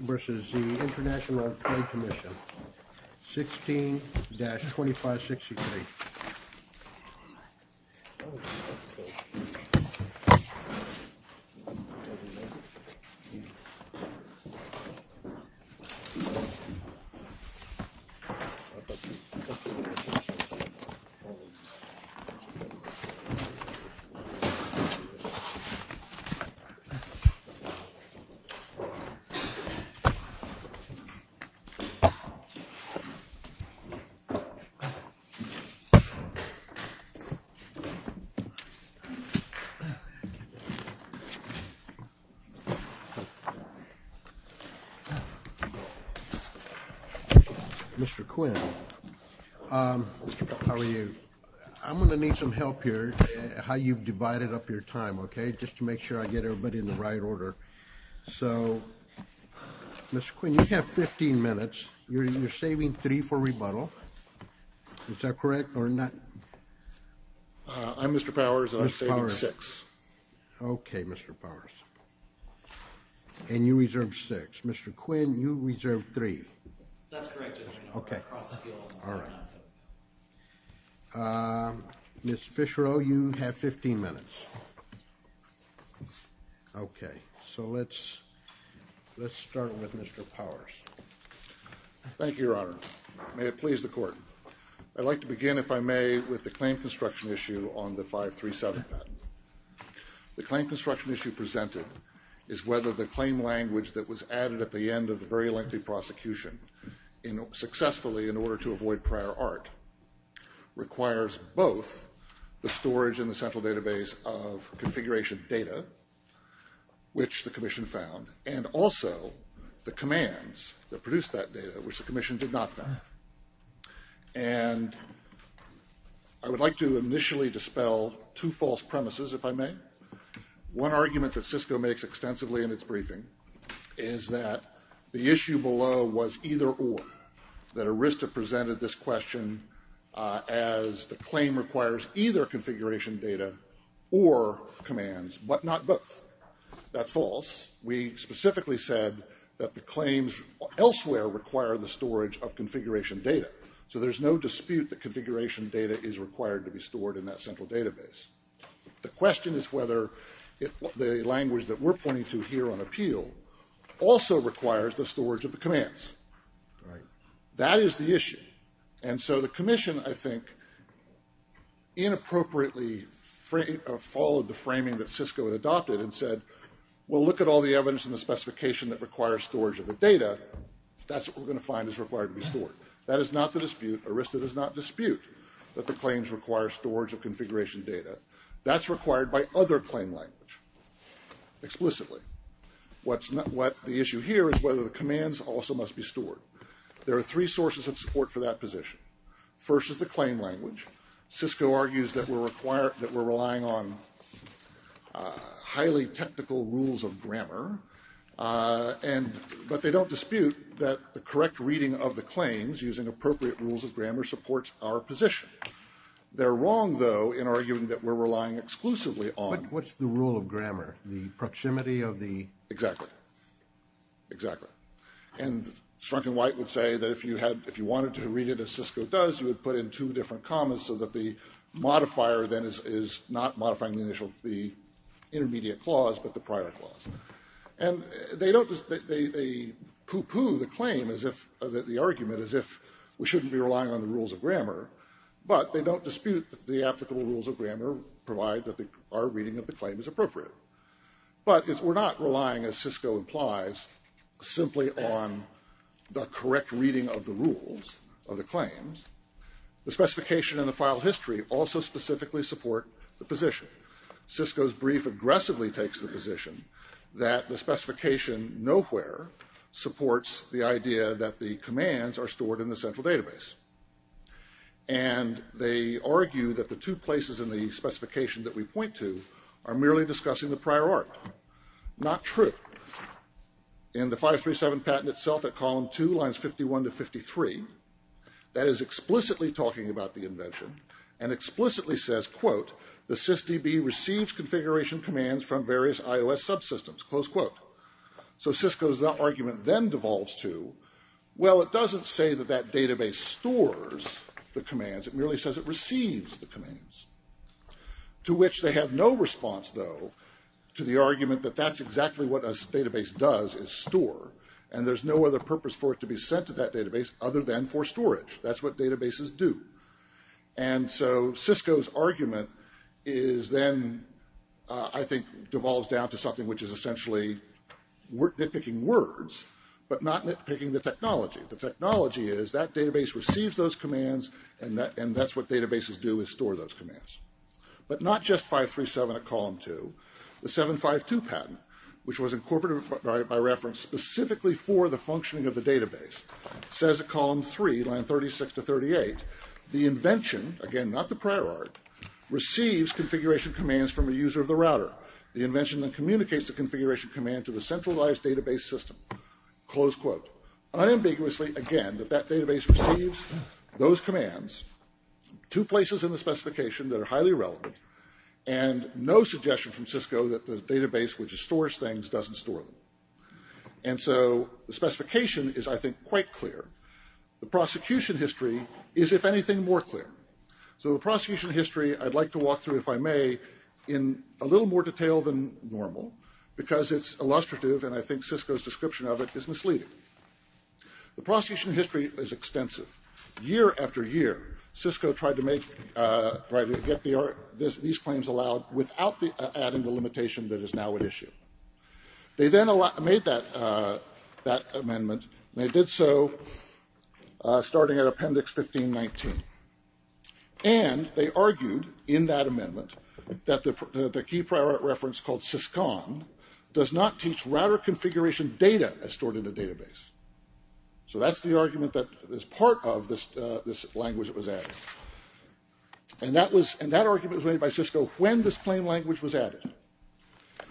versus the International Trade Commission, 16-2563. Mr. Quinn, how are you? I'm going to need some help here, how you've divided up your time, okay, just to make sure I get everybody in the right order. So, Mr. Quinn, you have 15 minutes, you're saving three for rebuttal, is that correct or not? I'm Mr. Powers, I'm saving six. Okay, Mr. Powers, and you reserved six. Mr. Quinn, you reserved three. That's correct. Okay, so let's start with Mr. Powers. Thank you, Your Honor. May it please the Court. I'd like to begin, if I may, with the claim construction issue on the 537 patent. The claim construction issue presented is whether the claim language that was added at the end of the very lengthy prosecution successfully in order to avoid prior art requires both the storage in the central database of configuration data, which the Commission found, and also the commands that produced that data, which the Commission did not find. And I would like to initially dispel two false premises, if I may. One argument that Cisco makes extensively in its briefing is that the issue below was either or, that Arista presented this question as the claim requires either configuration data or commands, but not both. That's false. We specifically said that the claims elsewhere require the storage of configuration data, so there's no dispute that configuration data is required to be stored in that central database. The question is whether the language that we're pointing to here on appeal also requires the storage of the commands. That is the issue. And so the Commission, I think, inappropriately followed the framing that Cisco had adopted and said, well, look at all the evidence in the specification that requires storage of the data. That's what we're going to find is required to be stored. That is not the dispute. Arista does not dispute that the claims require storage of configuration data. That's required by other claim language, explicitly. What the issue here is whether the commands also must be stored. There are three sources of support for that position. First is the claim language. Cisco argues that we're relying on highly technical rules of grammar, but they don't dispute that the correct reading of the claims using appropriate rules of grammar supports our position. They're wrong, though, in arguing that we're relying exclusively on... What's the rule of grammar? The proximity of the... Exactly. Exactly. And Strunk and White would say that if you wanted to read it as Cisco does, you would put in two different commas so that the modifier then is not modifying the intermediate clause, but the prior clause. And they poo-poo the argument as if we shouldn't be relying on the rules of grammar, but they don't dispute that the applicable rules of reading of the claim is appropriate. But we're not relying, as Cisco implies, simply on the correct reading of the rules of the claims. The specification and the file history also specifically support the position. Cisco's brief aggressively takes the position that the specification nowhere supports the idea that the commands are stored in the central database, are merely discussing the prior art. Not true. In the 537 patent itself at column 2, lines 51 to 53, that is explicitly talking about the invention, and explicitly says, quote, the sysdb receives configuration commands from various iOS subsystems, close quote. So Cisco's argument then devolves to, well, it doesn't say that that database stores the commands, it merely says it receives the commands. To which they have no response, though, to the argument that that's exactly what a database does, is store. And there's no other purpose for it to be sent to that database other than for storage. That's what databases do. And so Cisco's argument is then, I think, devolves down to something which is essentially nitpicking words, but not nitpicking the technology. The technology is, that database receives those commands, and that's what databases do, is store those commands. But not just 537 at column 2. The 752 patent, which was incorporated by reference specifically for the functioning of the database, says at column 3, line 36 to 38, the invention, again, not the prior art, receives configuration commands from a user of the router. The invention then communicates the configuration command to the centralized database system, close receives those commands, two places in the specification that are highly relevant, and no suggestion from Cisco that the database which stores things doesn't store them. And so the specification is, I think, quite clear. The prosecution history is, if anything, more clear. So the prosecution history, I'd like to walk through, if I may, in a little more detail than normal, because it's illustrative, and I think Cisco's description of it is misleading. The prosecution history is extensive. Year after year, Cisco tried to make, tried to get these claims allowed without adding the limitation that is now at issue. They then made that amendment, and they did so starting at appendix 1519. And they argued, in that amendment, that the key prior art reference called syscon does not teach router configuration data as stored in a database. So that's the argument that is part of this language that was added. And that argument was made by Cisco when this claim language was added.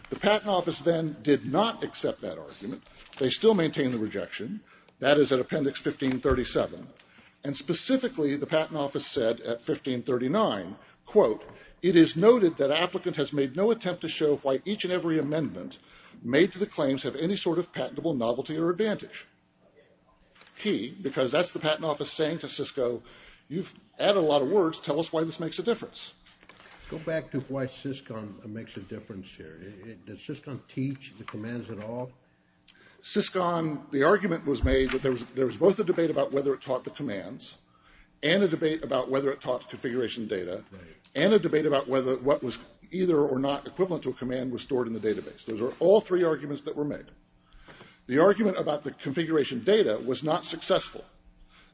The Patent Office then did not accept that argument. They still maintain the rejection. That is at appendix 1537. And specifically, the Patent Office said at 1539, quote, it is noted that applicant has made no attempt to show why each and every amendment made to the claims have any sort of patentable novelty or advantage. Key, because that's the Patent Office saying to Cisco, you've added a lot of words, tell us why this makes a difference. Go back to why syscon makes a difference here. Does syscon teach the commands at all? Syscon, the argument was made that there was both a debate about whether it taught the commands, and a debate about whether it taught configuration data, and a debate about whether what was either or not equivalent to a command was stored in the database. Those are all three arguments that were made. The argument about the configuration data was not successful.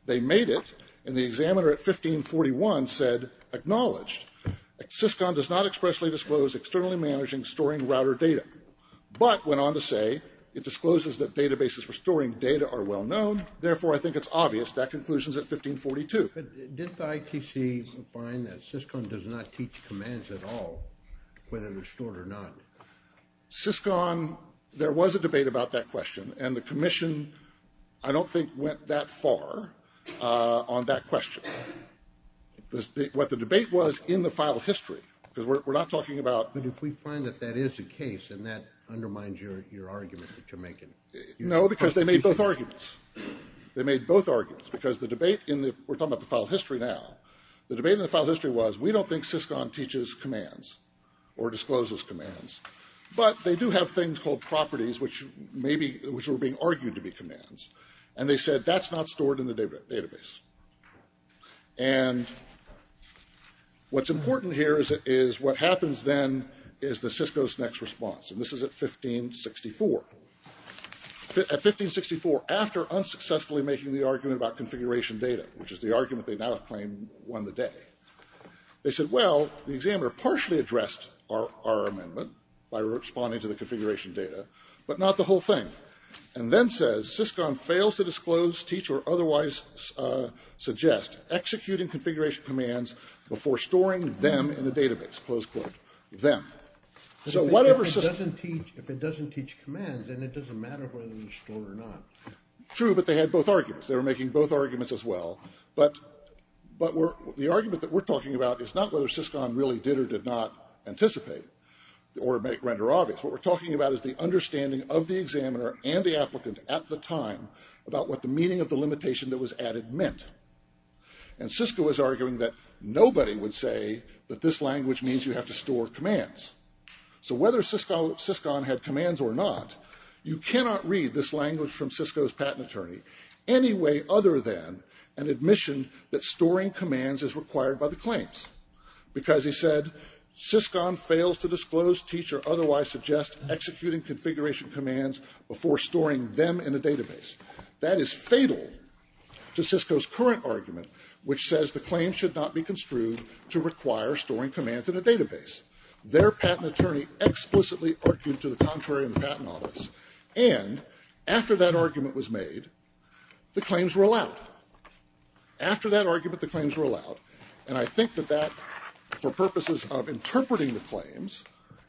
They made it, and the examiner at 1541 said, acknowledged that syscon does not expressly disclose externally managing storing router data, but went on to say it discloses that databases for storing data are well-known, therefore I think it's obvious that conclusion is at 1542. Did the ITC find that syscon does not teach commands at all, whether they're stored or not? Syscon, there was a debate about that question, and the Commission, I don't think, went that far on that question. What the debate was in the file history, because we're not talking about... But if we find that that is the case, and that undermines your argument that you're making... No, because they made both arguments. They made both arguments, because the debate in the, we're talking about the file history now, the debate in the file history was, we don't think syscon teaches commands, or discloses commands, but they do have things called properties which maybe, which were being argued to be commands, and they said that's not stored in the database. And what's important here is what happens then is the Cisco's next response, and this is at 1564. At 1564, after unsuccessfully making the argument about configuration data, which is the argument they now have claimed won the day, they said, well, the examiner partially addressed our amendment by responding to the configuration data, but not the whole thing. And then says, syscon fails to disclose, teach, or otherwise suggest executing configuration commands before storing them in a database, close quote, them. So whatever... If it doesn't teach commands, then it doesn't matter whether they're stored or not. True, but they had both arguments, they were making both arguments as well, but the argument that we're talking about is not whether syscon really did or did not anticipate, or make, render obvious. What we're talking about is the understanding of the examiner and the applicant at the time about what the meaning of the limitation that was added meant. And Cisco was arguing that nobody would say that this language means you have to store commands. So whether syscon had commands or not, you cannot read this language from Cisco's patent attorney any way other than an admission that storing commands is required by the claims. Because he said, syscon fails to disclose, teach, or otherwise suggest executing configuration commands before storing them in a database. That is fatal to Cisco's current argument, which says the claim should not be construed to require storing commands in a database. After that argument was made, the claims were allowed. After that argument, the claims were allowed. And I think that that, for purposes of interpreting the claims,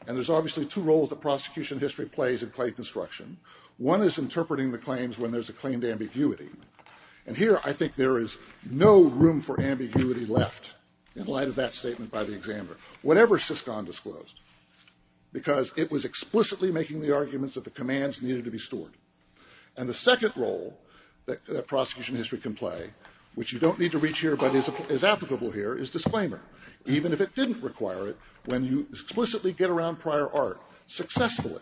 and there's obviously two roles that prosecution history plays in claim construction. One is interpreting the claims when there's a claim to ambiguity. And here, I think there is no room for ambiguity left in light of that statement by the examiner. Whatever syscon disclosed, because it was explicitly making the And the second role that prosecution history can play, which you don't need to reach here but is applicable here, is disclaimer. Even if it didn't require it, when you explicitly get around prior art successfully,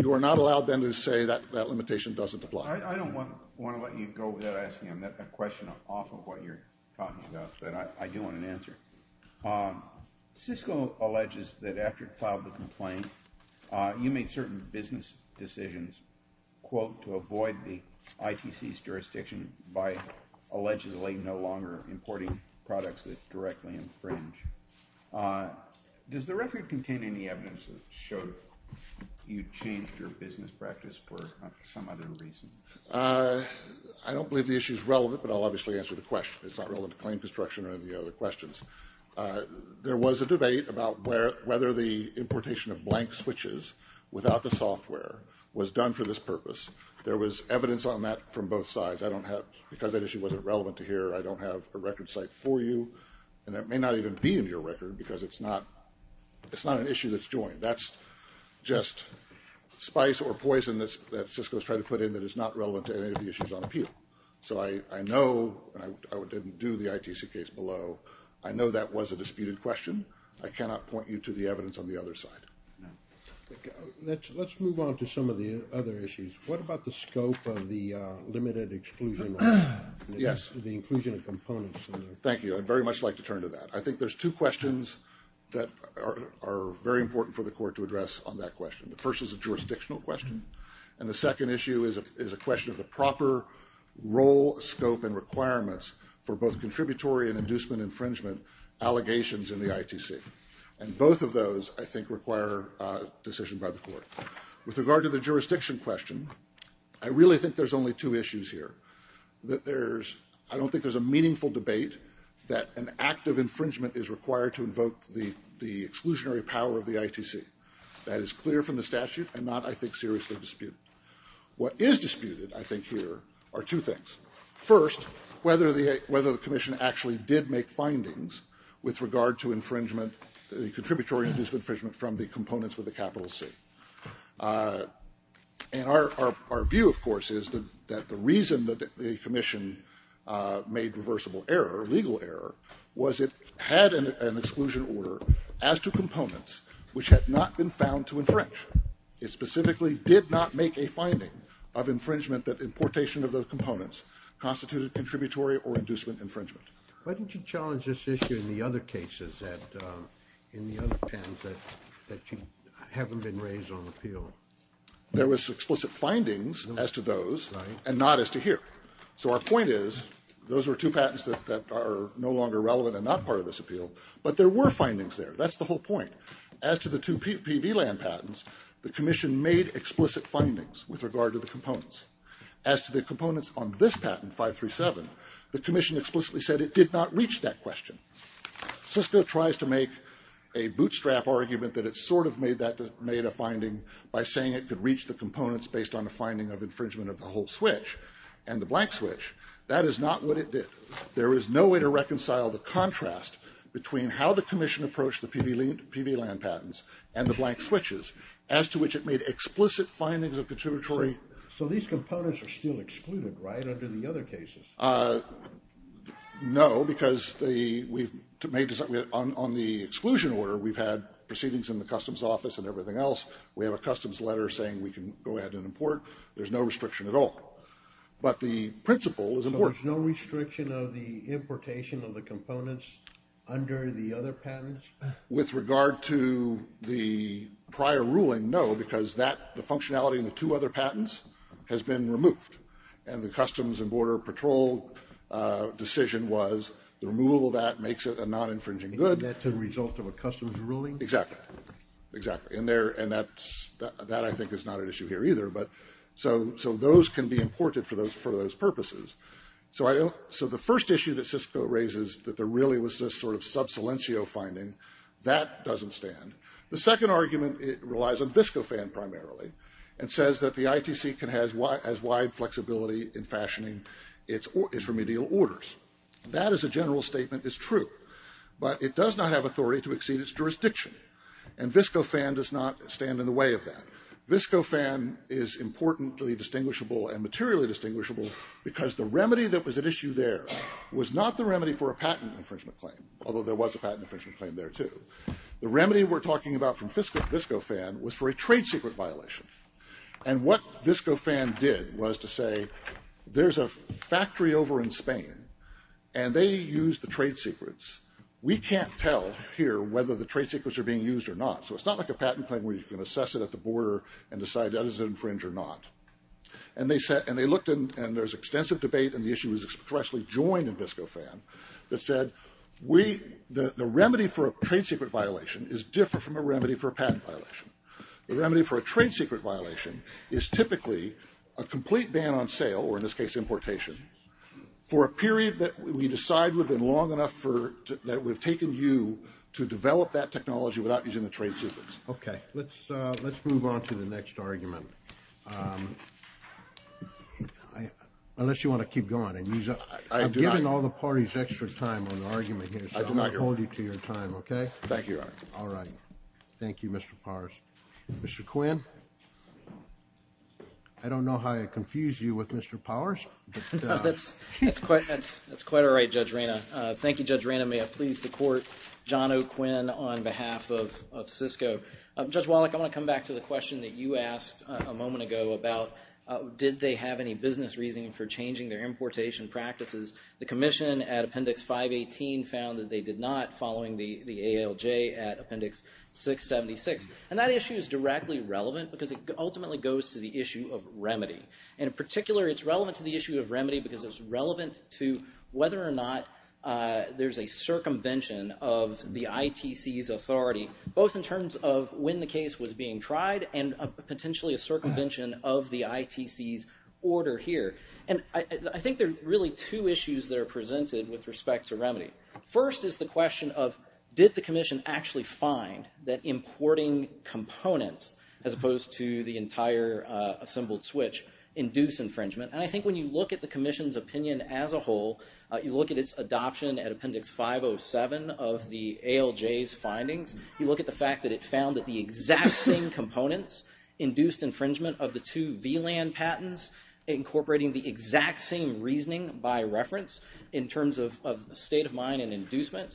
you are not allowed then to say that that limitation doesn't apply. I don't want to let you go without asking a question off of what you're talking about, but I do want an answer. Cisco alleges that after it filed the complaint, you made certain business decisions, quote, to avoid the ITC's jurisdiction by allegedly no longer importing products that directly infringe. Does the record contain any evidence that showed you changed your business practice for some other reason? I don't believe the issue is relevant, but I'll obviously answer the question. It's not relevant to claim construction or any of the other questions. There was a debate about whether the importation of blank switches without the software was done for this purpose. There was evidence on that from both sides. I don't have, because that issue wasn't relevant to here, I don't have a record site for you, and it may not even be in your record because it's not an issue that's joined. That's just spice or poison that Cisco's trying to put in that is not relevant to any of the issues on appeal. So I know, and I didn't do the ITC case below, I know that was a disputed question. I cannot point you to the evidence on the other side. Let's move on to some of the other issues. What about the scope of the limited exclusion, the inclusion of components? Thank you. I'd very much like to turn to that. I think there's two questions that are very important for the court to address on that question. The first is a jurisdictional question, and the second issue is a question of the proper role, scope, and requirements for both contributory and inducement infringement allegations in the ITC. And both of those, I think, require a decision by the court. With regard to the jurisdiction question, I really think there's only two issues here. That there's, I don't think there's a meaningful debate that an act of infringement is required to invoke the exclusionary power of the ITC. That is clear from the statute and not, I think, seriously disputed. What is disputed, I think, here are two things. First, whether the commission actually did make findings with regard to infringement, the contributory and inducement infringement, from the components with a capital C. And our view, of course, is that the reason that the commission made reversible error, legal error, was it had an exclusion order as to components which had not been found to infringe. It specifically did not make a finding of infringement that importation of those components constituted contributory or inducement infringement. Why don't you challenge this issue in the other cases that, in the other patents that haven't been raised on appeal? There was explicit findings as to those and not as to here. So our point is those were two patents that are no longer relevant and not part of this appeal, but there were findings there. That's the whole point. As to the two PV land patents, the commission made explicit findings with regard to the components. As to the components on this patent, 537, the commission explicitly said it did not reach that question. Cisco tries to make a bootstrap argument that it sort of made a finding by saying it could reach the components based on the finding of infringement of the whole switch and the blank switch. That is not what it did. There is no way to reconcile the contrast between how the commission approached the PV land patents and the blank switches, as to which it made explicit findings of contributory. So these components are still excluded, right, under the other cases? No, because on the exclusion order, we've had proceedings in the customs office and everything else. We have a customs letter saying we can go ahead and import. There's no restriction at all. But the principle is important. So there's no restriction of the importation of the other patents? With regard to the prior ruling, no, because the functionality in the two other patents has been removed. And the Customs and Border Patrol decision was the removal of that makes it a non-infringing good. And that's a result of a customs ruling? Exactly. Exactly. And that I think is not an issue here either. So those can be imported for those purposes. So the first issue that Cisco raises, that there really was this sort of sub silencio finding, that doesn't stand. The second argument relies on VSCOFAN primarily, and says that the ITC has wide flexibility in fashioning its remedial orders. That as a general statement is true. But it does not have authority to exceed its jurisdiction. And VSCOFAN does not stand in the way of that. VSCOFAN is importantly distinguishable and materially distinguishable because the remedy that was at issue there was not the remedy for a patent infringement claim. Although there was a patent infringement claim there too. The remedy we're talking about from VSCOFAN was for a trade secret violation. And what VSCOFAN did was to say, there's a factory over in Spain, and they use the trade secrets. We can't tell here whether the trade secrets are being used or not. So it's not like a patent claim where you can assess it at the border and decide that is an infringement or not. And they looked and there's extensive debate and the issue was expressly joined in VSCOFAN, that said, the remedy for a trade secret violation is different from a remedy for a patent violation. The remedy for a trade secret violation is typically a complete ban on sale, or in this case importation, for a period that we decide would have been long enough that would have taken you to develop that technology without using the trade secrets. Okay. Let's move on to the next argument. Unless you want to keep going. I'm giving all the parties extra time on the argument here. I do not hear you. So I'm going to hold you to your time, okay? Thank you, Your Honor. All right. Thank you, Mr. Powers. Mr. Quinn. I don't know how I confused you with Mr. Powers. That's quite all right, Judge Reyna. Thank you, Judge Reyna. May I please the court, John O'Quinn on behalf of Cisco. Judge Wallach, I want to come back to the question that you asked a moment ago about, did they have any business reasoning for changing their importation practices? The commission at Appendix 518 found that they did not following the ALJ at Appendix 676. And that issue is directly relevant because it ultimately goes to the issue of remedy. In particular, it's relevant to the issue of remedy because it's relevant to whether or not there's a circumvention of the ITC's authority, both in terms of when the case was being tried and potentially a circumvention of the ITC's order here. And I think there are really two issues that are presented with respect to remedy. First is the question of, did the commission actually find that importing components, as opposed to the entire assembled switch, induce infringement? And I think when you look at the commission's opinion as a whole, you look at its adoption at Appendix 507 of the ALJ's findings, you look at the fact that it found that the exact same components induced infringement of the two VLAN patents, incorporating the exact same reasoning by reference in terms of state of mind and inducement,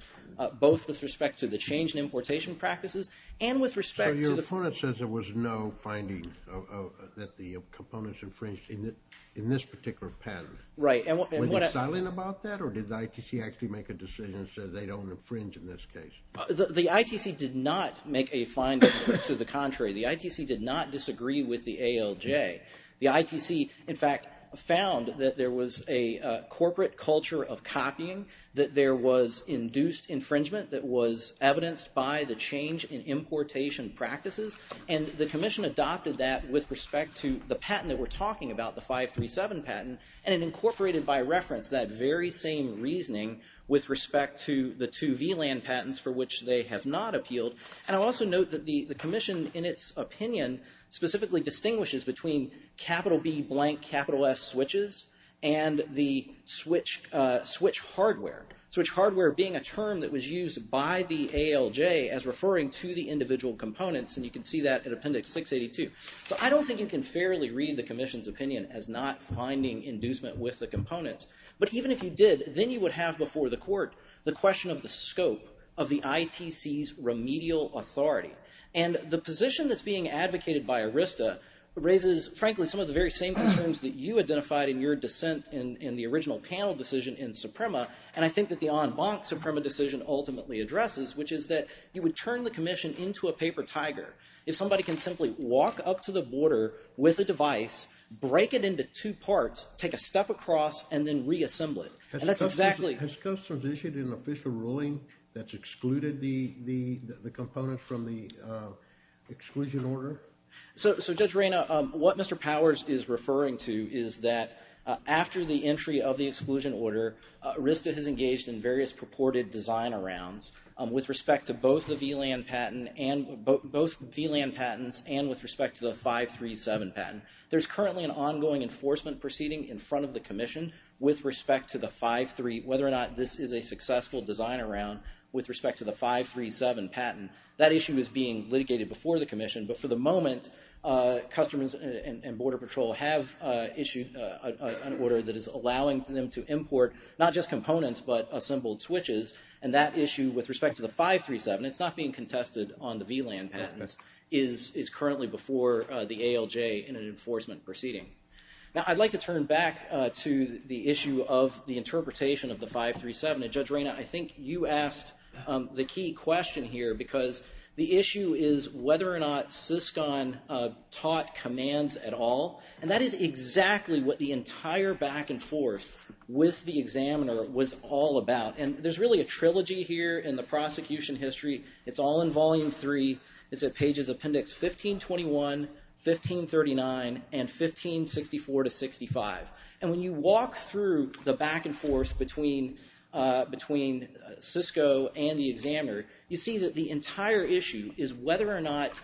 both with respect to the change in importation practices and with respect to the- So your opponent says there was no finding that the components infringed in this particular patent. Right. Were they silent about that or did the ITC actually make a decision and say they don't infringe in this case? The ITC did not make a finding to the contrary. The ITC did not disagree with the ALJ. The ITC, in fact, found that there was a corporate culture of copying, that there was induced infringement that was evidenced by the change in importation practices, and the commission adopted that with respect to the patent that we're talking about, the 537 patent, and it incorporated by reference that very same reasoning with respect to the two VLAN patents for which they have not appealed. And I'll also note that the commission, in its opinion, specifically distinguishes between capital B blank capital S switches and the switch hardware. Switch hardware being a term that was So I don't think you can fairly read the commission's opinion as not finding inducement with the components, but even if you did, then you would have before the court the question of the scope of the ITC's remedial authority. And the position that's being advocated by Arista raises, frankly, some of the very same concerns that you identified in your dissent in the original panel decision in Suprema, and I think that the en banc Suprema decision ultimately addresses, which is that you would commission into a paper tiger. If somebody can simply walk up to the border with a device, break it into two parts, take a step across, and then reassemble it. And that's exactly... Has customs issued an official ruling that's excluded the components from the exclusion order? So Judge Reyna, what Mr. Powers is referring to is that after the entry of the exclusion order, Arista has engaged in various purported design arounds with respect to both the VLAN patent and both VLAN patents and with respect to the 537 patent. There's currently an ongoing enforcement proceeding in front of the commission with respect to the 5-3, whether or not this is a successful design around with respect to the 5-3-7 patent. That issue is being litigated before the commission, but for the moment, Customs and Border Patrol have issued an order that is allowing them to import not just components, but assembled switches. And that issue with respect to the 5-3-7, it's not being contested on the VLAN patents, is currently before the ALJ in an enforcement proceeding. Now, I'd like to turn back to the issue of the interpretation of the 5-3-7. And Judge Reyna, I think you asked the key question here because the issue is whether or not CISCON taught commands at all. And that is exactly what the entire back and forth with the examiner was all about. And there's really a trilogy here in the prosecution history. It's all in volume three. It's at pages appendix 1521, 1539, and 1564 to 65. And when you walk through the back and forth between CISCO and the examiner, you see that the entire issue is whether or not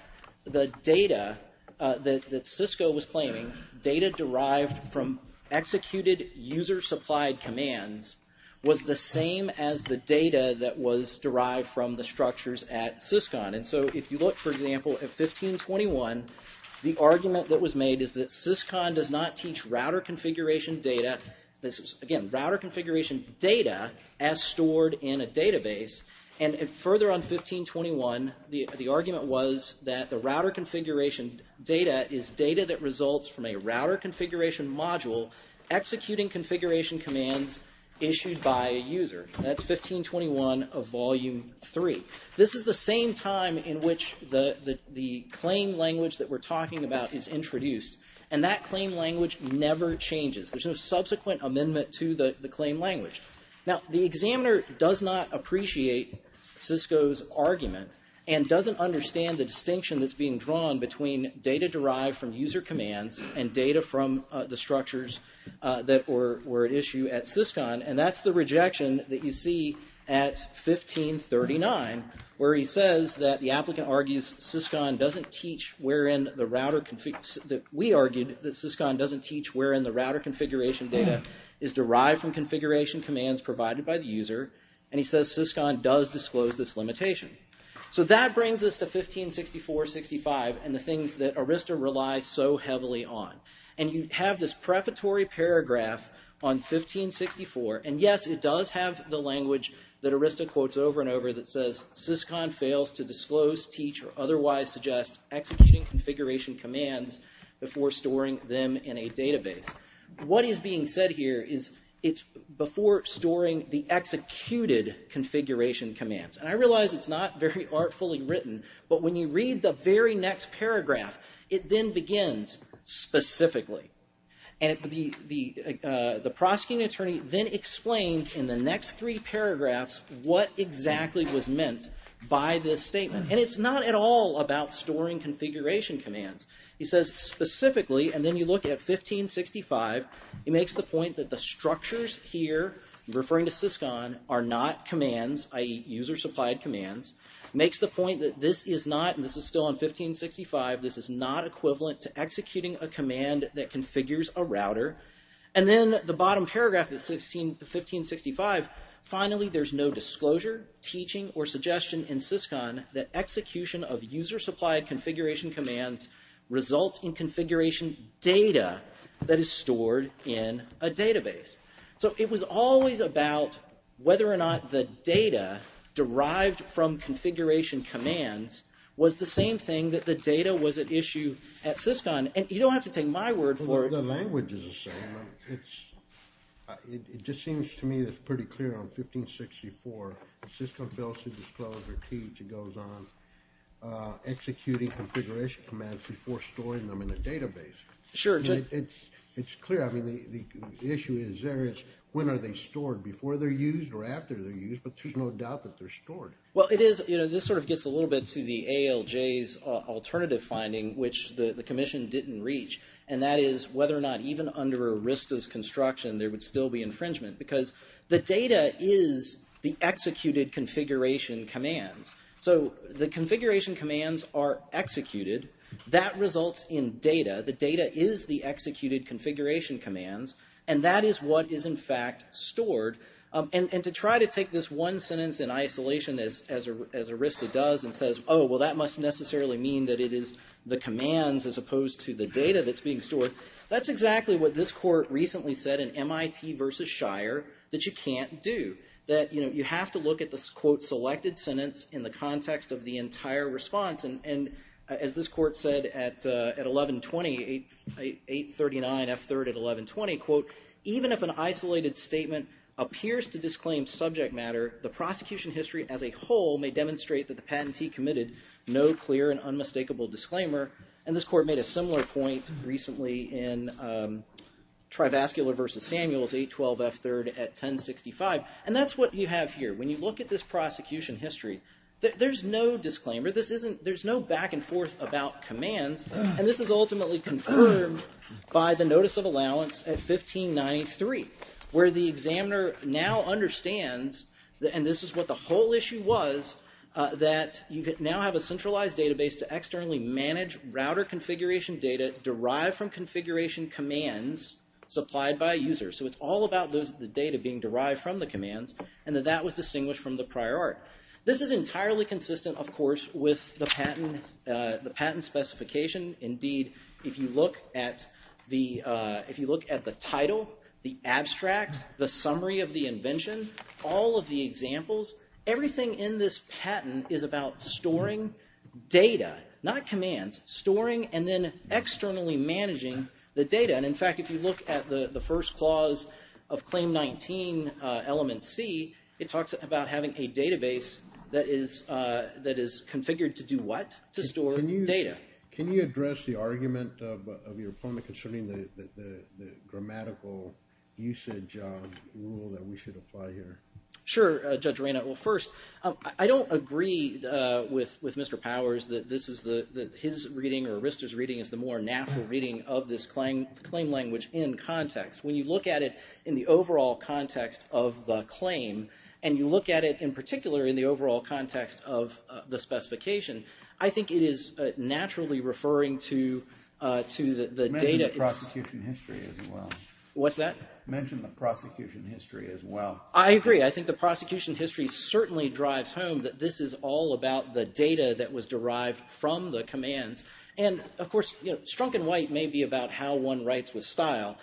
the data that CISCO was claiming, data derived from executed user-supplied commands, was the same as the data that was derived from the structures at CISCON. And so if you look, for example, at 1521, the argument that was made is that CISCON does not teach router configuration data. This is, again, router configuration data as stored in a database. And further on 1521, the argument was that the router configuration data is data that results from a router configuration module executing configuration commands issued by a user. That's 1521 of volume three. This is the same time in which the claim language that we're talking about is introduced. And that claim language never changes. There's no subsequent amendment to the claim language. Now, the examiner does not appreciate CISCO's argument and doesn't understand the distinction that's being drawn between data derived from user commands and data from the structures that were at issue at CISCON. And that's the rejection that you see at 1539, where he says that the applicant argues that CISCON doesn't teach wherein the router configuration data is derived from configuration commands provided by the user. And he says CISCON does disclose this limitation. So that brings us to 1564-65 and the things that ARISTA relies so heavily on. And you have this prefatory paragraph on 1564. And yes, it does have the language that ARISTA quotes over and over that says CISCON fails to disclose, teach, or otherwise suggest executing configuration commands before storing them in a database. What is being said here is it's before storing the executed configuration commands. And I realize it's not very artfully written, but when you read the very next paragraph, it then begins specifically. And the prosecuting attorney then explains in the next three paragraphs what exactly was meant by this statement. And it's not at all about storing configuration commands. He says specifically, and then you look at 1565, he makes the point that the structures here, referring to CISCON, are not commands, i.e. user supplied commands. Makes the point that this is not, and this is a router. And then the bottom paragraph of 1565, finally there's no disclosure, teaching, or suggestion in CISCON that execution of user supplied configuration commands results in configuration data that is stored in a database. So it was always about whether or not the data derived from configuration commands was the same thing that the data was at issue at CISCON. And you don't have to take my word for it. The language is the same. It just seems to me that's pretty clear on 1564, CISCON fails to disclose or teach. It goes on executing configuration commands before storing them in a database. Sure. It's clear. I mean, the issue is there is when are they stored, before they're used or after they're used, but there's no doubt that they're stored. Well, it is, you know, this sort of gets a little bit to the ALJ's alternative finding, which the and that is whether or not even under Arista's construction, there would still be infringement, because the data is the executed configuration commands. So the configuration commands are executed. That results in data. The data is the executed configuration commands. And that is what is in fact stored. And to try to take this one sentence in isolation as Arista does and says, well, that must necessarily mean that it is the commands as opposed to the data that's being stored. That's exactly what this court recently said in MIT versus Shire that you can't do. That, you know, you have to look at this quote, selected sentence in the context of the entire response. And as this court said at 1120, 839 F3rd at 1120, quote, even if an isolated statement appears to disclaim subject matter, the prosecution history as a whole may demonstrate that the no clear and unmistakable disclaimer. And this court made a similar point recently in Trivascular versus Samuels 812 F3rd at 1065. And that's what you have here. When you look at this prosecution history, there's no disclaimer. This isn't there's no back and forth about commands. And this is ultimately confirmed by the notice of allowance at 1593, where the examiner now have a centralized database to externally manage router configuration data derived from configuration commands supplied by users. So it's all about those, the data being derived from the commands and that that was distinguished from the prior art. This is entirely consistent, of course, with the patent, the patent specification. Indeed, if you look at the, if you look at the title, the abstract, the summary of the invention, all of the examples, everything in this patent is about storing data, not commands, storing and then externally managing the data. And in fact, if you look at the first clause of Claim 19, element C, it talks about having a database that is that is configured to do what? To store data. Can you address the argument of your opponent concerning the usage of rule that we should apply here? Sure, Judge Arena. Well, first, I don't agree with with Mr. Powers that this is the his reading or Rister's reading is the more natural reading of this claim language in context. When you look at it in the overall context of the claim and you look at it in particular in the overall context of the specification, I think it is naturally referring to to the data in history as well. What's that? Mention the prosecution history as well. I agree. I think the prosecution history certainly drives home that this is all about the data that was derived from the commands. And of course, you know, Strunk and White may be about how one writes with style.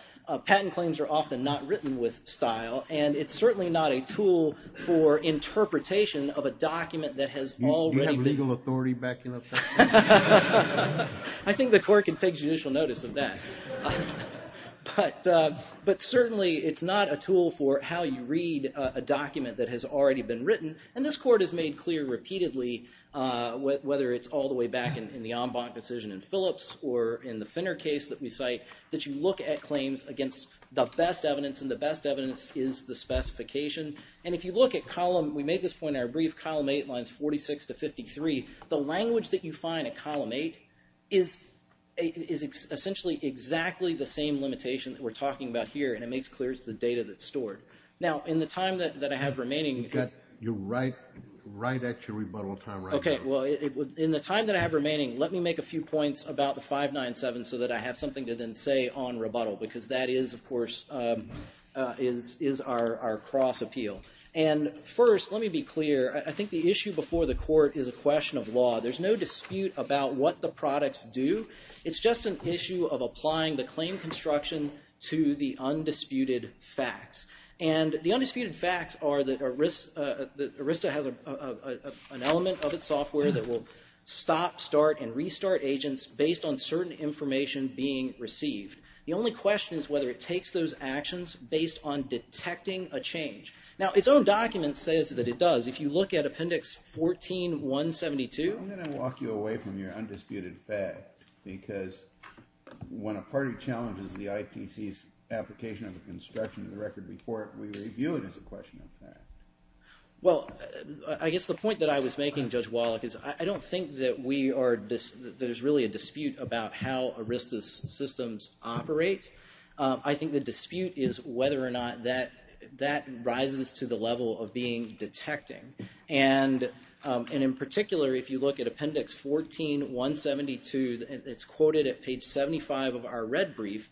Patent claims are often not written with style, and it's certainly not a I think the court can take judicial notice of that. But certainly it's not a tool for how you read a document that has already been written. And this court has made clear repeatedly, whether it's all the way back in the Ombach decision in Phillips or in the Finner case that we cite, that you look at claims against the best evidence and the best evidence is the specification. And if you look at column, we made this point in our brief, column 8 lines 46 to 53, the language that you find in column 8 is essentially exactly the same limitation that we're talking about here. And it makes clear it's the data that's stored. Now, in the time that I have remaining... You're right at your rebuttal time right now. Okay, well, in the time that I have remaining, let me make a few points about the 597 so that I have something to then say on rebuttal, because that is, of course, is our cross appeal. And first, let me be clear, I think the issue before the court is a question of law. There's no dispute about what the products do. It's just an issue of applying the claim construction to the undisputed facts. And the undisputed facts are that ARISTA has an element of its software that will stop, start, and restart agents based on certain information being received. The only question is whether it takes those appendix 14172. I'm going to walk you away from your undisputed fact because when a party challenges the IPC's application of the construction of the record before it, we review it as a question of fact. Well, I guess the point that I was making, Judge Wallach, is I don't think that there's really a dispute about how ARISTA's systems operate. I think the dispute is whether or not that rises to the level of being detecting. And in particular, if you look at appendix 14172, it's quoted at page 75 of our red brief.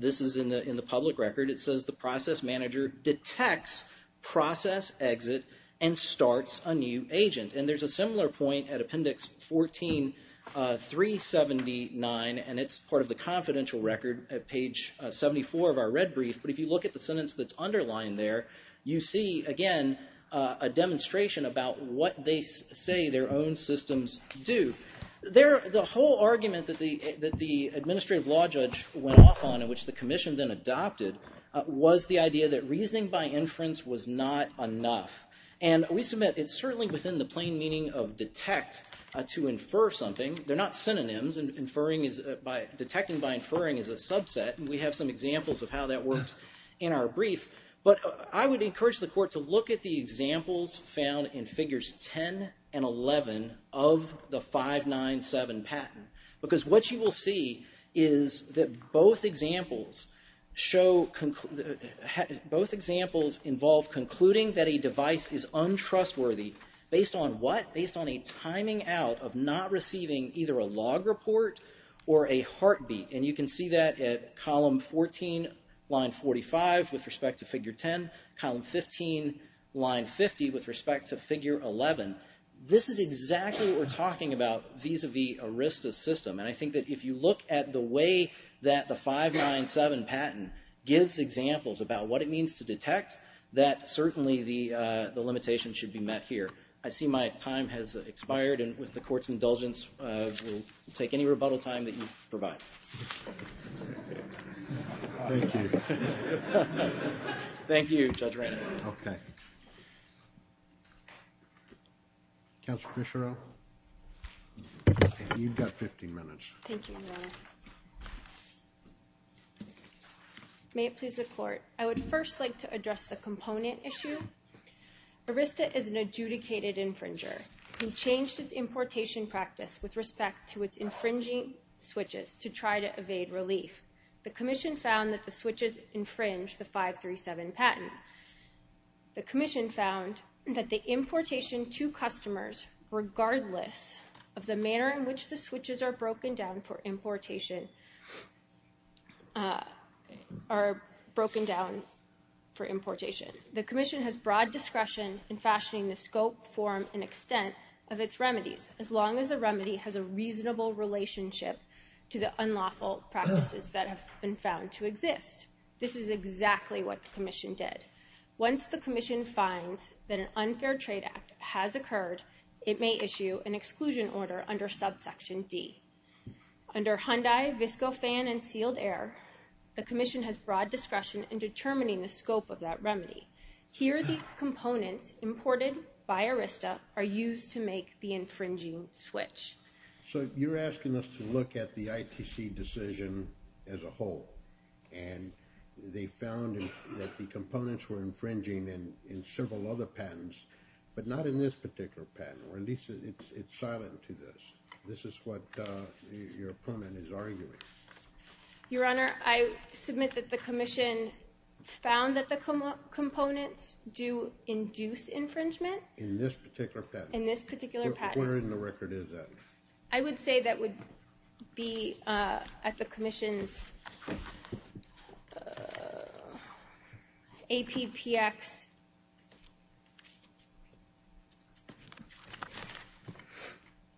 This is in the public record. It says, the process manager detects process exit and starts a new agent. And there's a similar point at appendix 14379, and it's part of the confidential record at page 74 of our red brief. But if you look at the sentence that's underlined there, you see, again, a demonstration about what they say their own systems do. The whole argument that the administrative law judge went off on, and which the commission then adopted, was the idea that reasoning by inference was not enough. And we submit it's certainly within the plain meaning of detect to infer something. They're not synonyms. Detecting by inferring is a subset, and we have some examples of how that works in our brief. But I would encourage the court to look at the examples found in figures 10 and 11 of the 597 patent. Because what you will see is that both examples involve concluding that a device is or a heartbeat. And you can see that at column 14, line 45, with respect to figure 10. Column 15, line 50, with respect to figure 11. This is exactly what we're talking about vis-a-vis ERISTA's system. And I think that if you look at the way that the 597 patent gives examples about what it means to detect, that certainly the limitation should be met here. I see my time has expired, and with the court's indulgence, we'll take any rebuttal time that you provide. Thank you. Thank you, Judge Ratner. Okay. Counselor Fischerow, you've got 15 minutes. Thank you, Your Honor. May it please the court. I would first like to address the component issue. ERISTA is an adjudicated infringer. We changed its importation practice with respect to its infringing switches to try to evade relief. The commission found that the switches infringed the 537 patent. The commission found that the importation to customers, regardless of the manner in which the switches are broken down for importation, are broken down for importation. The commission has broad discretion in fashioning the scope, form, and extent of its remedies, as long as the remedy has a reasonable relationship to the unlawful practices that have been found to exist. This is exactly what the commission did. Once the commission finds that an unfair trade act has occurred, it may issue an exclusion order under subsection D. Under Hyundai, VSCO fan, and sealed air, the commission has broad discretion in determining the scope of that remedy. Here, the components imported by ERISTA are used to make the infringing switch. So you're asking us to look at the ITC decision as a whole, and they found that the components were infringing in several other patents, but not in this particular patent, or at least it's silent to this. This is what your opponent is arguing. Your Honor, I submit that the commission found that the components do induce infringement. In this particular patent? In this particular patent. Where in the record is that? I would say that would be at the commission's APPX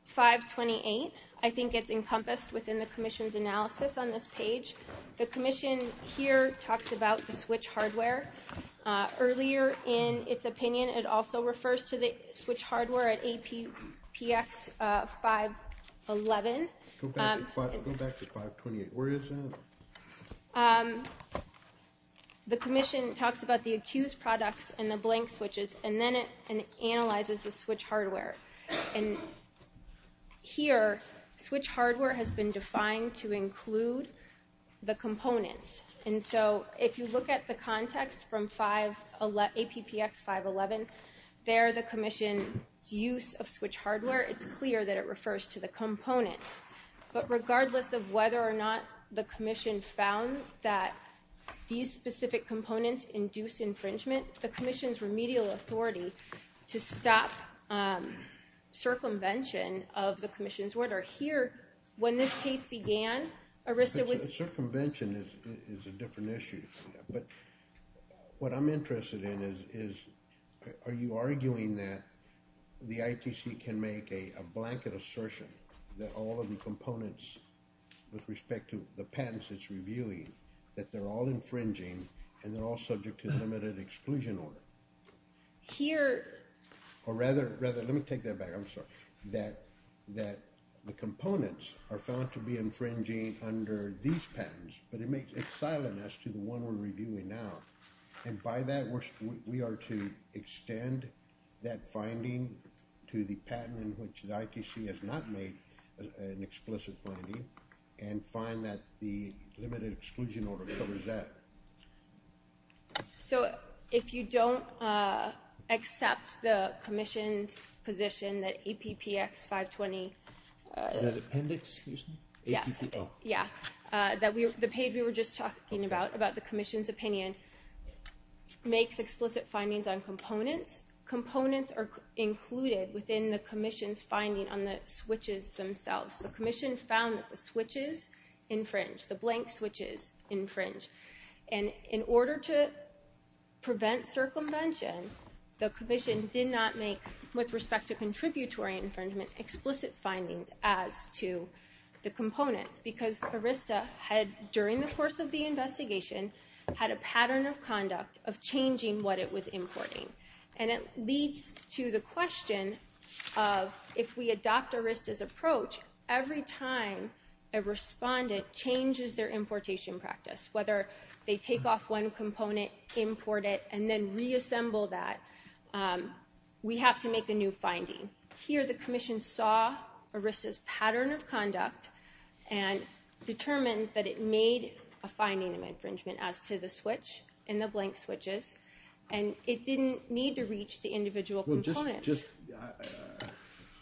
528. I think it's encompassed within the commission's analysis on this page. The commission here talks about the switch hardware. Earlier in its opinion, it also refers to the switch hardware at APPX 511. Go back to 528. Where is that? The commission talks about the accused products and the blank switches, and then it analyzes the switch hardware. Here, switch hardware has been defined to include the components. If you look at the context from APPX 511, there the commission's use of switch hardware, it's clear that it refers to the components. But regardless of whether or not the commission found that these specific components induce infringement, the commission's remedial authority to stop circumvention of the commission's order here, when this case began, circumvention is a different issue. But what I'm interested in is, are you arguing that the ITC can make a blanket assertion that all of the components, with respect to the patents it's reviewing, that they're all infringing, and they're all subject to limited exclusion order? Here, or rather, let me take that back. I'm sorry. That the components are found to be under these patents, but it makes exileness to the one we're reviewing now. And by that, we are to extend that finding to the patent in which the ITC has not made an explicit finding, and find that the limited exclusion order covers that. So if you don't accept the commission's position that APPX 520... The appendix, excuse me? Yes. Yeah. The page we were just talking about, about the commission's opinion, makes explicit findings on components. Components are included within the commission's finding on the switches themselves. The commission found that the switches infringe, the blank switches infringe. And in order to prevent circumvention, the commission did not make, with respect to contributory infringement, explicit findings as to the components. Because ARISTA had, during the course of the investigation, had a pattern of conduct of changing what it was importing. And it leads to the question of, if we adopt ARISTA's approach, every time a respondent changes their importation practice, whether they take off one component, import it, and then we have to make a new finding. Here, the commission saw ARISTA's pattern of conduct and determined that it made a finding of infringement as to the switch and the blank switches, and it didn't need to reach the individual components.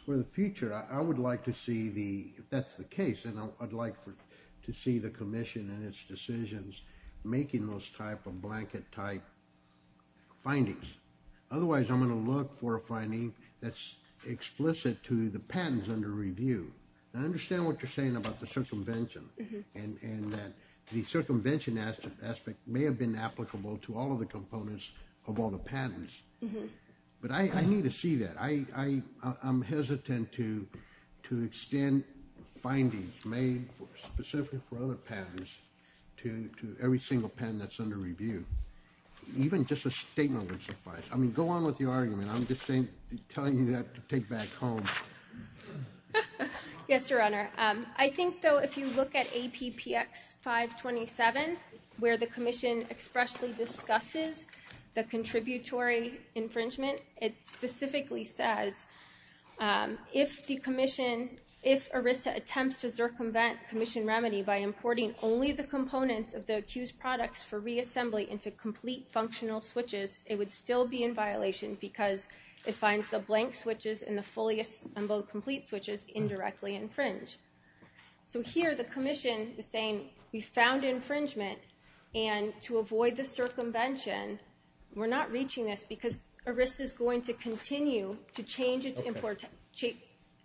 For the future, I would like to see the, if that's the case, and I'd like to see the commission and its decisions making those type of blanket-type findings. Otherwise, I'm going to look for a finding that's explicit to the patents under review. I understand what you're saying about the circumvention, and that the circumvention aspect may have been applicable to all of the components of all the patents. But I need to see that. I'm hesitant to extend findings made specifically for other patents to every single patent that's I mean, go on with the argument. I'm just saying, telling you that to take back home. Yes, Your Honor. I think, though, if you look at APPX 527, where the commission expressly discusses the contributory infringement, it specifically says, if the commission, if ARISTA attempts to circumvent commission remedy by importing only the components of the accused products for reassembly into complete functional switches, it would still be in violation because it finds the blank switches and the fully assembled complete switches indirectly infringe. So here, the commission is saying, we found infringement, and to avoid the circumvention, we're not reaching this because ARISTA is going to continue to change its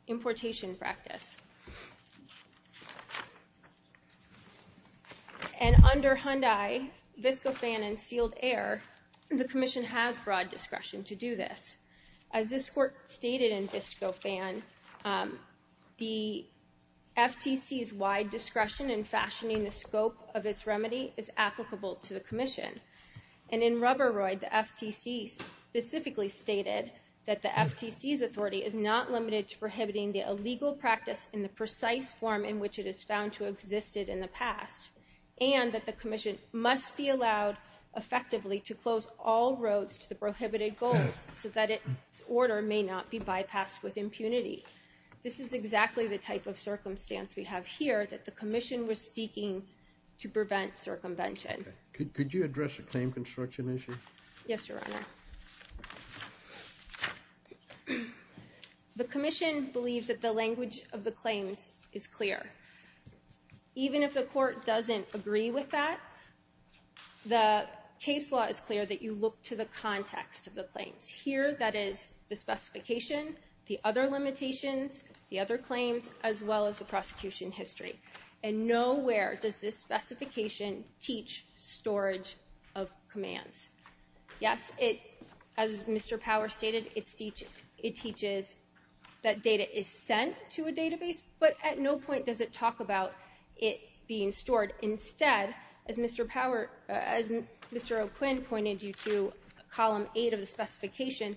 importation practice. And under Hyundai, VSCOFAN, and sealed air, the commission has broad discretion to do this. As this court stated in VSCOFAN, the FTC's wide discretion in fashioning the scope of its remedy is applicable to the commission. And in Rubberoid, the FTC specifically stated that the FTC's legal practice in the precise form in which it is found to have existed in the past, and that the commission must be allowed effectively to close all roads to the prohibited goals so that its order may not be bypassed with impunity. This is exactly the type of circumstance we have here, that the commission was seeking to prevent circumvention. Could you address the claim language of the claims is clear. Even if the court doesn't agree with that, the case law is clear that you look to the context of the claims. Here, that is the specification, the other limitations, the other claims, as well as the prosecution history. And nowhere does this specification teach storage of commands. Yes, as Mr. Power stated, it teaches that data is sent to a database, but at no point does it talk about it being stored. Instead, as Mr. O'Quinn pointed you to, column eight of the specification,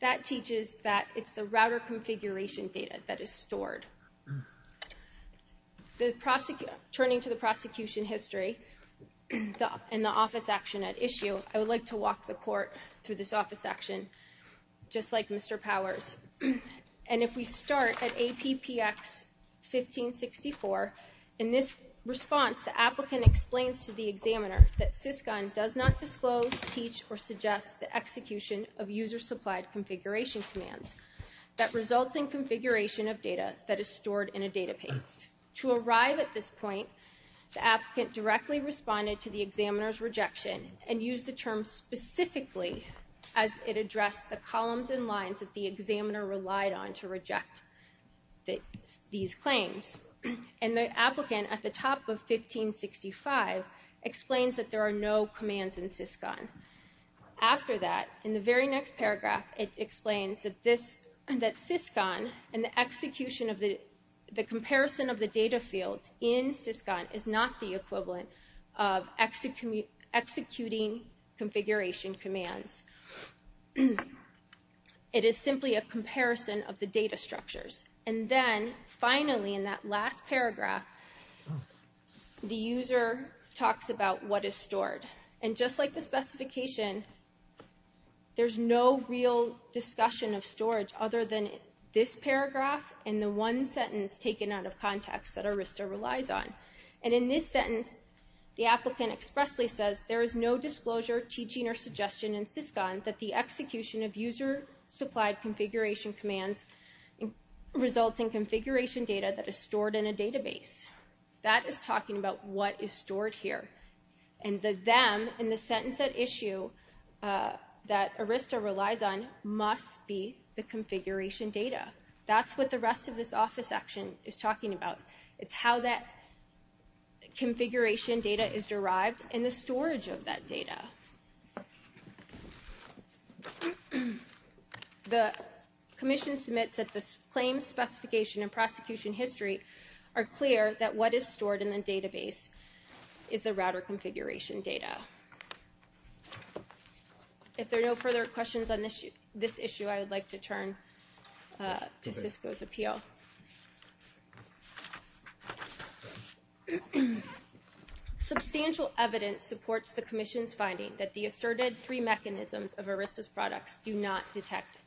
that teaches that it's the router configuration data that is stored. Turning to the prosecution history and the office action at issue, I would like to walk the court through this office action just like Mr. Powers. And if we start at APPX 1564, in this response, the applicant explains to the examiner that SISCON does not disclose, teach, or suggest the execution of user-supplied configuration commands that results in configuration of data that is stored in a database. To arrive at this point, the applicant directly responded to the examiner's rejection and used the term specifically as it addressed the columns and lines that the examiner relied on to reject these claims. And the applicant at the top of 1565 explains that there are no commands in SISCON. After that, in the very next paragraph, it explains that SISCON and the execution of the comparison of the data fields in SISCON is not the equivalent of executing configuration commands. It is simply a comparison of the data structures. And then, finally, in that last paragraph, the user talks about what is stored. And just like the specification, there's no real discussion of storage other than this paragraph and the one sentence taken out of context that ARISTA relies on. And in this sentence, the applicant expressly says there is no disclosure, teaching, or suggestion in SISCON that the execution of user-supplied configuration commands results in configuration data that is stored in a database. That is talking about what is stored here. And the them in the sentence at issue that ARISTA relies on must be the configuration data. That's what the rest of this office section is talking about. It's how that configuration data is derived and the storage of that data. The commission submits that the claim specification and prosecution history are clear that what is stored in the database is the router configuration data. If there are no further questions on this issue, I would like to turn to SISCO's appeal. Substantial evidence supports the commission's finding that the asserted three mechanisms of ARISTA's products do not detect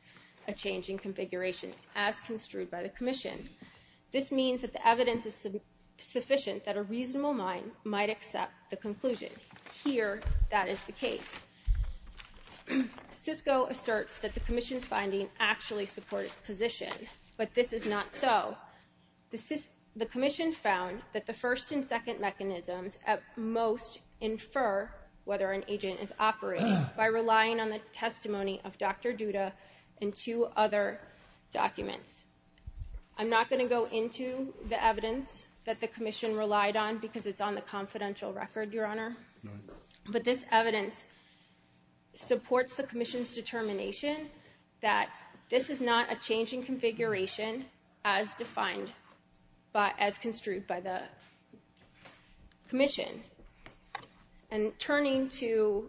a change in configuration as construed by the commission. This means that the evidence is sufficient that a reasonable mind might accept the conclusion. Here, that is the case. SISCO asserts that the commission's finding actually supports position, but this is not so. The commission found that the first and second mechanisms at most infer whether an agent is operating by relying on the testimony of Dr. Duda and two other documents. I'm not going to go into the evidence that the commission relied on because it's on the confidential record, Your Honor, but this evidence supports the commission's determination that this is not a change in configuration as defined by, as construed by the commission. And turning to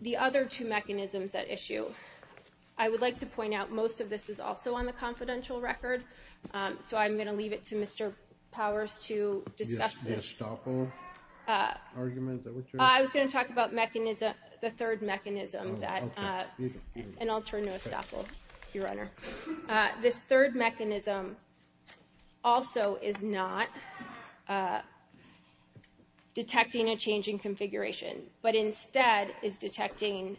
the other two mechanisms at issue, I would like to point out most of this is also on the confidential record, so I'm going to leave it to Mr. Powers to discuss this. I was going to talk about mechanism, the third mechanism that, and I'll turn to Estapo, Your Honor. This third mechanism also is not detecting a change in configuration, but instead is detecting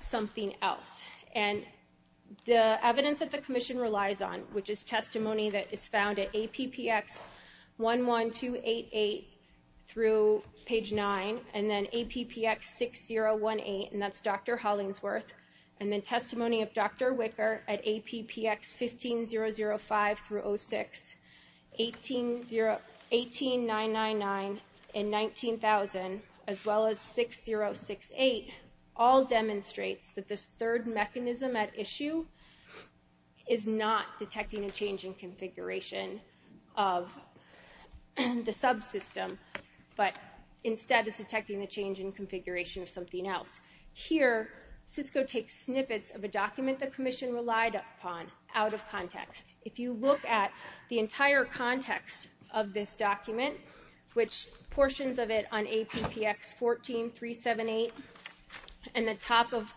something else. And the evidence that the commission relies on, which is testimony that is found at APPX 11288 through page 9, and then APPX 6018, and that's Dr. Hollingsworth, and then testimony of Dr. Wicker at APPX 15005 through 06, 18999 and 19000, as well as 6068, all demonstrates that this third mechanism at issue is not detecting a change in configuration of the subsystem, but instead is detecting a change in configuration of something else. Here, CISCO takes snippets of a document the commission relied upon out of context. If you look at the entire context of this document, which portions of it on APPX 14378 and the top of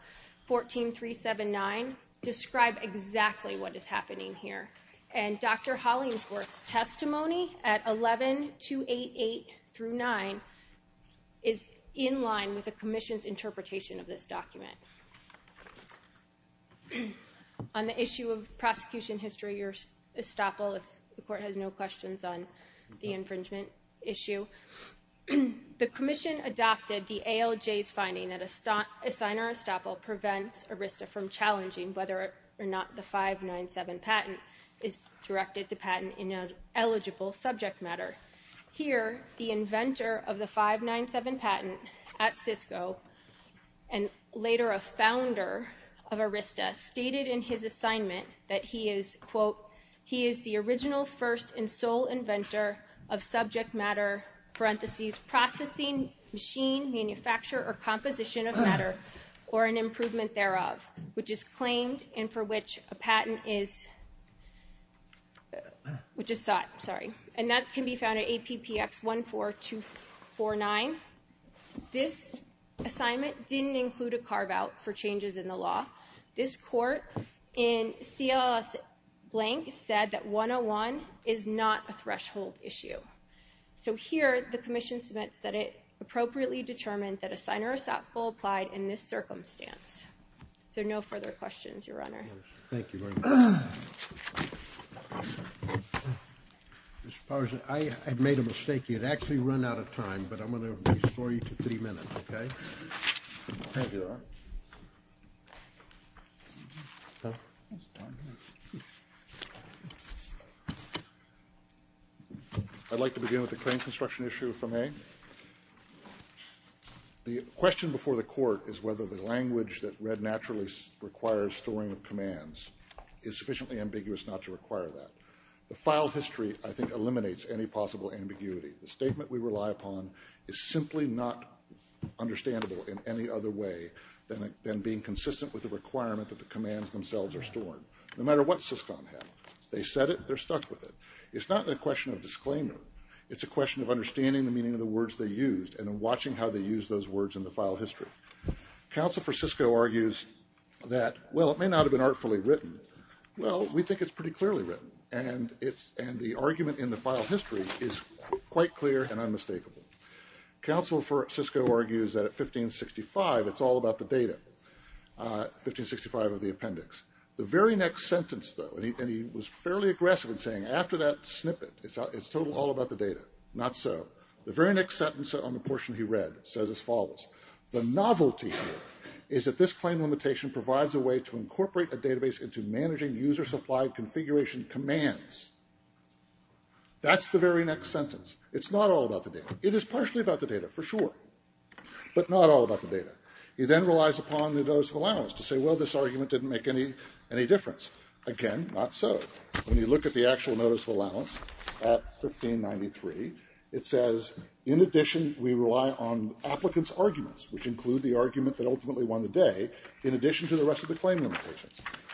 14379 describe exactly what is happening here. And Dr. Hollingsworth's testimony at 11288 through 9 is in line with the commission's interpretation of this document. On the issue of prosecution history or estoppel, if the court has no questions on the infringement issue, the commission adopted the ALJ's finding that a signer estoppel prevents ARISTA from challenging whether or not the 597 patent is directed to patent in an eligible subject matter. Here, the inventor of the 597 patent at CISCO, and later a founder of ARISTA, stated in his assignment that he is, quote, he is the original first and sole inventor of subject matter, parentheses, processing, machine, manufacturer, or composition of matter, or an improvement thereof, which is claimed and for which a patent is, which is sought, sorry, and that can be found at APPX 14249. This assignment didn't include a carve out for changes in the law. This court in CLS blank said that 101 is not a threshold issue. So here, the commission submits that it appropriately determined that a signer estoppel applied in this circumstance. So no further questions, Your Honor. Thank you. Mr. Powers, I made a mistake. You'd actually run out of time, but I'm going to restore you to three minutes, okay? I'd like to begin with the claim construction issue from A. The question before the court is whether the language that read naturally requires storing of commands is sufficiently ambiguous not to require that. The file history, I think, eliminates any possible ambiguity. The statement we rely upon is simply not understandable in any other way than being consistent with the requirement that the commands themselves are stored. No matter what SISCON had, they said it, they're stuck with it. It's not a question of disclaimer. It's a question of understanding the meaning of the words they used and watching how they use those words in the file history. Counsel for SISCO argues that, well, it may not have been artfully written. Well, we think it's pretty clearly written, and the argument in the file history is quite clear and unmistakable. Counsel for SISCO argues that at 1565, it's all about the data, 1565 of the appendix. The very next sentence, though, and he was fairly aggressive in saying after that snippet, it's total all about the data. Not so. The very next sentence on the portion he follows, the novelty here is that this claim limitation provides a way to incorporate a database into managing user-supplied configuration commands. That's the very next sentence. It's not all about the data. It is partially about the data, for sure, but not all about the data. He then relies upon the notice of allowance to say, well, this argument didn't make any difference. Again, not so. When you look at the actual notice of allowance at 1593, it says, in addition, we rely on applicants' arguments, which include the argument that ultimately won the day, in addition to the rest of the claim limitations.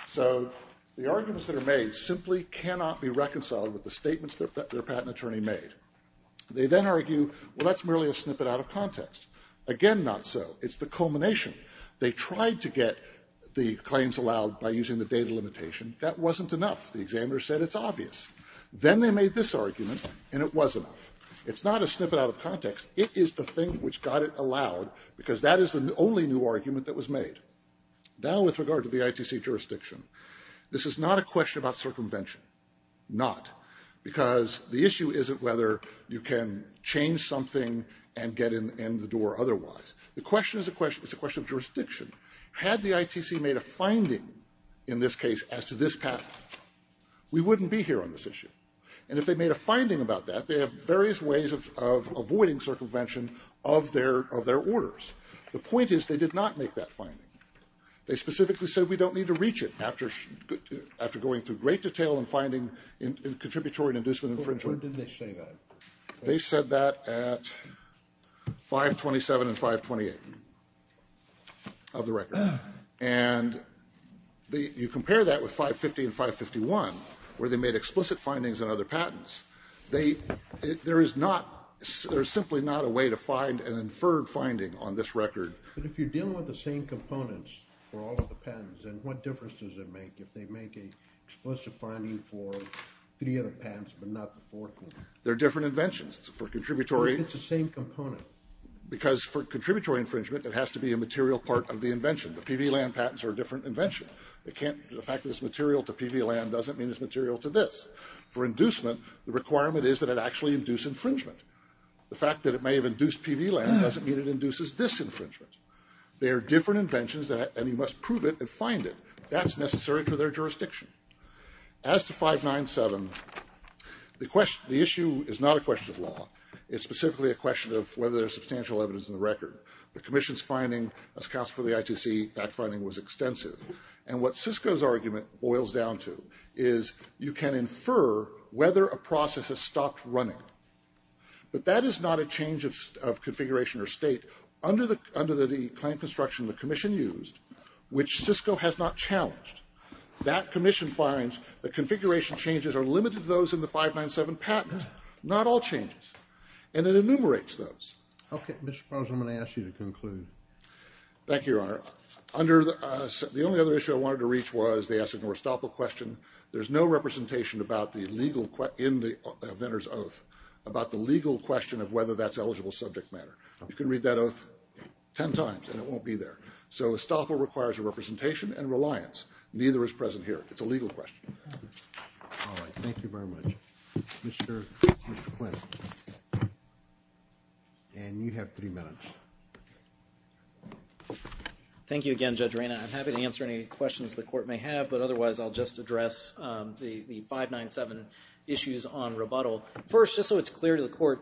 So the arguments that are made simply cannot be reconciled with the statements that their patent attorney made. They then argue, well, that's merely a snippet out of context. Again, not so. It's the culmination. They tried to get the claims allowed by using the data limitation. That wasn't enough. The made this argument, and it was enough. It's not a snippet out of context. It is the thing which got it allowed, because that is the only new argument that was made. Now with regard to the ITC jurisdiction, this is not a question about circumvention. Not. Because the issue isn't whether you can change something and get in the door otherwise. The question is a question of jurisdiction. Had the ITC made a finding in this case as to this patent, we wouldn't be here on this issue. And if they made a finding about that, they have various ways of avoiding circumvention of their orders. The point is they did not make that finding. They specifically said we don't need to reach it after going through great detail and finding in contributory and inducement infringement. Where did they say that? They said that at 527 and 528 of the record. And you compare that with 550 and 551, where they made explicit findings on other patents. There is not, there's simply not a way to find an inferred finding on this record. But if you're dealing with the same components for all of the patents, then what difference does it make if they make an explicit finding for three other patents but not the fourth one? They're different inventions. It's for contributory. It's the same component. Because for contributory infringement it has to be a material part of the invention. The PV land patents are a different invention. The fact that it's material to PV land doesn't mean it's material to this. For inducement, the requirement is that it actually induce infringement. The fact that it may have induced PV land doesn't mean it induces this infringement. They are different inventions and you must prove it and find it. That's necessary for their jurisdiction. As to 597, the issue is not a question of law. It's specifically a substantial evidence in the record. The commission's finding as cast for the ITC, that finding was extensive. And what Cisco's argument boils down to is you can infer whether a process has stopped running. But that is not a change of configuration or state. Under the claim construction the commission used, which Cisco has not challenged, that commission finds the configuration changes are limited to those in the 597 patent. Not all changes. And it enumerates those. Okay. Mr. Prosser, I'm going to ask you to conclude. Thank you, Your Honor. The only other issue I wanted to reach was the Estoppel question. There's no representation in the inventor's oath about the legal question of whether that's eligible subject matter. You can read that oath ten times and it won't be there. So Estoppel requires a Thank you very much. Mr. Quinn. And you have three minutes. Thank you again, Judge Rayna. I'm happy to answer any questions the court may have, but otherwise I'll just address the 597 issues on rebuttal. First, just so it's clear to the court,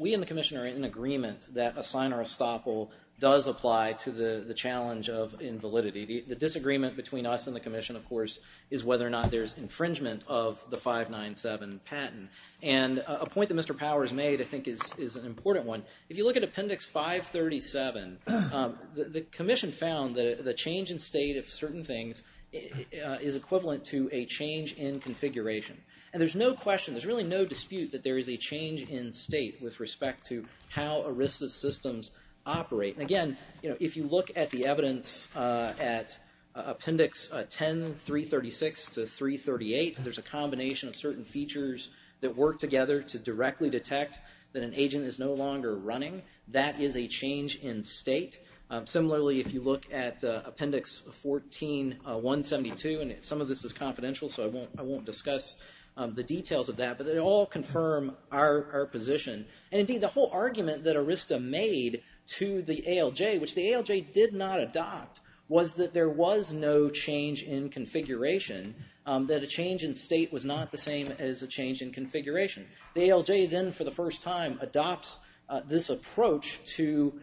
we and the commission are in agreement that a sign or Estoppel does apply to the challenge of invalidity. The disagreement between us and the commission, of course, is whether or not there's a 597 patent. And a point that Mr. Powers made, I think, is an important one. If you look at Appendix 537, the commission found that the change in state of certain things is equivalent to a change in configuration. And there's no question, there's really no dispute that there is a change in state with respect to how ERISA systems operate. And again, if you look at the evidence at Appendix 10336 to 338, there's a combination of certain features that work together to directly detect that an agent is no longer running. That is a change in state. Similarly, if you look at Appendix 14172, and some of this is confidential, so I won't discuss the details of that, but they all confirm our position. And indeed, the whole argument that ERISA made to the ALJ, which the ALJ did not adopt, was that there was no change in configuration, that a change in state was not the same as a change in configuration. The ALJ then, for the first time, adopts this approach to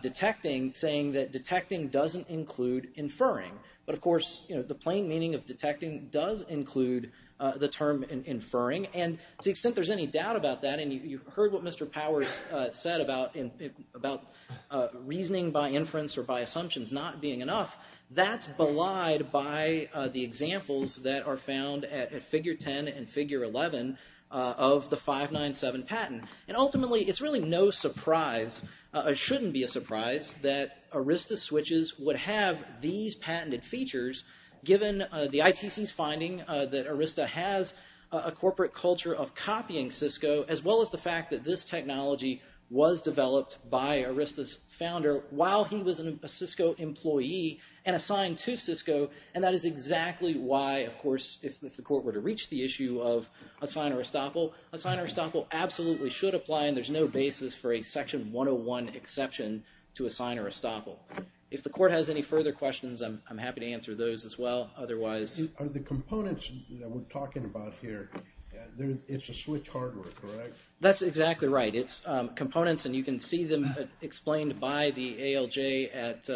detecting, saying that detecting doesn't include inferring. But of course, the plain meaning of detecting does include the term inferring. And to the extent there's any doubt about that, and you heard what Mr. Powers said about reasoning by inference or by assumptions not being enough, that's belied by the examples that are found at Figure 10 and Figure 11 of the 597 patent. And ultimately, it's really no surprise, or shouldn't be a surprise, that ERISA switches would have these patented features, given the ITC's finding that ERISA has a corporate culture of copying Cisco, as well as the fact that this technology was developed by ERISA's founder while he was a Cisco employee and assigned to Cisco, and that is exactly why, of course, if the Court were to reach the issue of a sign or estoppel, a sign or estoppel absolutely should apply, and there's no basis for a Section 101 exception to a sign or estoppel. If the Court has any further questions, I'm happy to answer those as well. Otherwise... Are the components that we're talking about here, it's a switch hardware, correct? That's exactly right. It's components, and you can see them explained by the ALJ at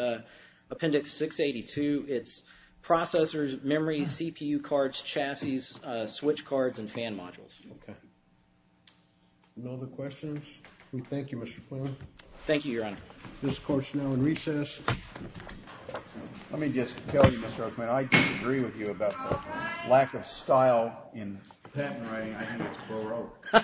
Appendix 682. It's processors, memory, CPU cards, chassis, switch cards, and fan modules. Okay. No other questions? We thank you, Mr. Poon. Thank you, Your Honor. This Court's now in recess. Let me just tell you, Mr. Oakman, I disagree with you about the lack of style in patent writing. I think it's baroque.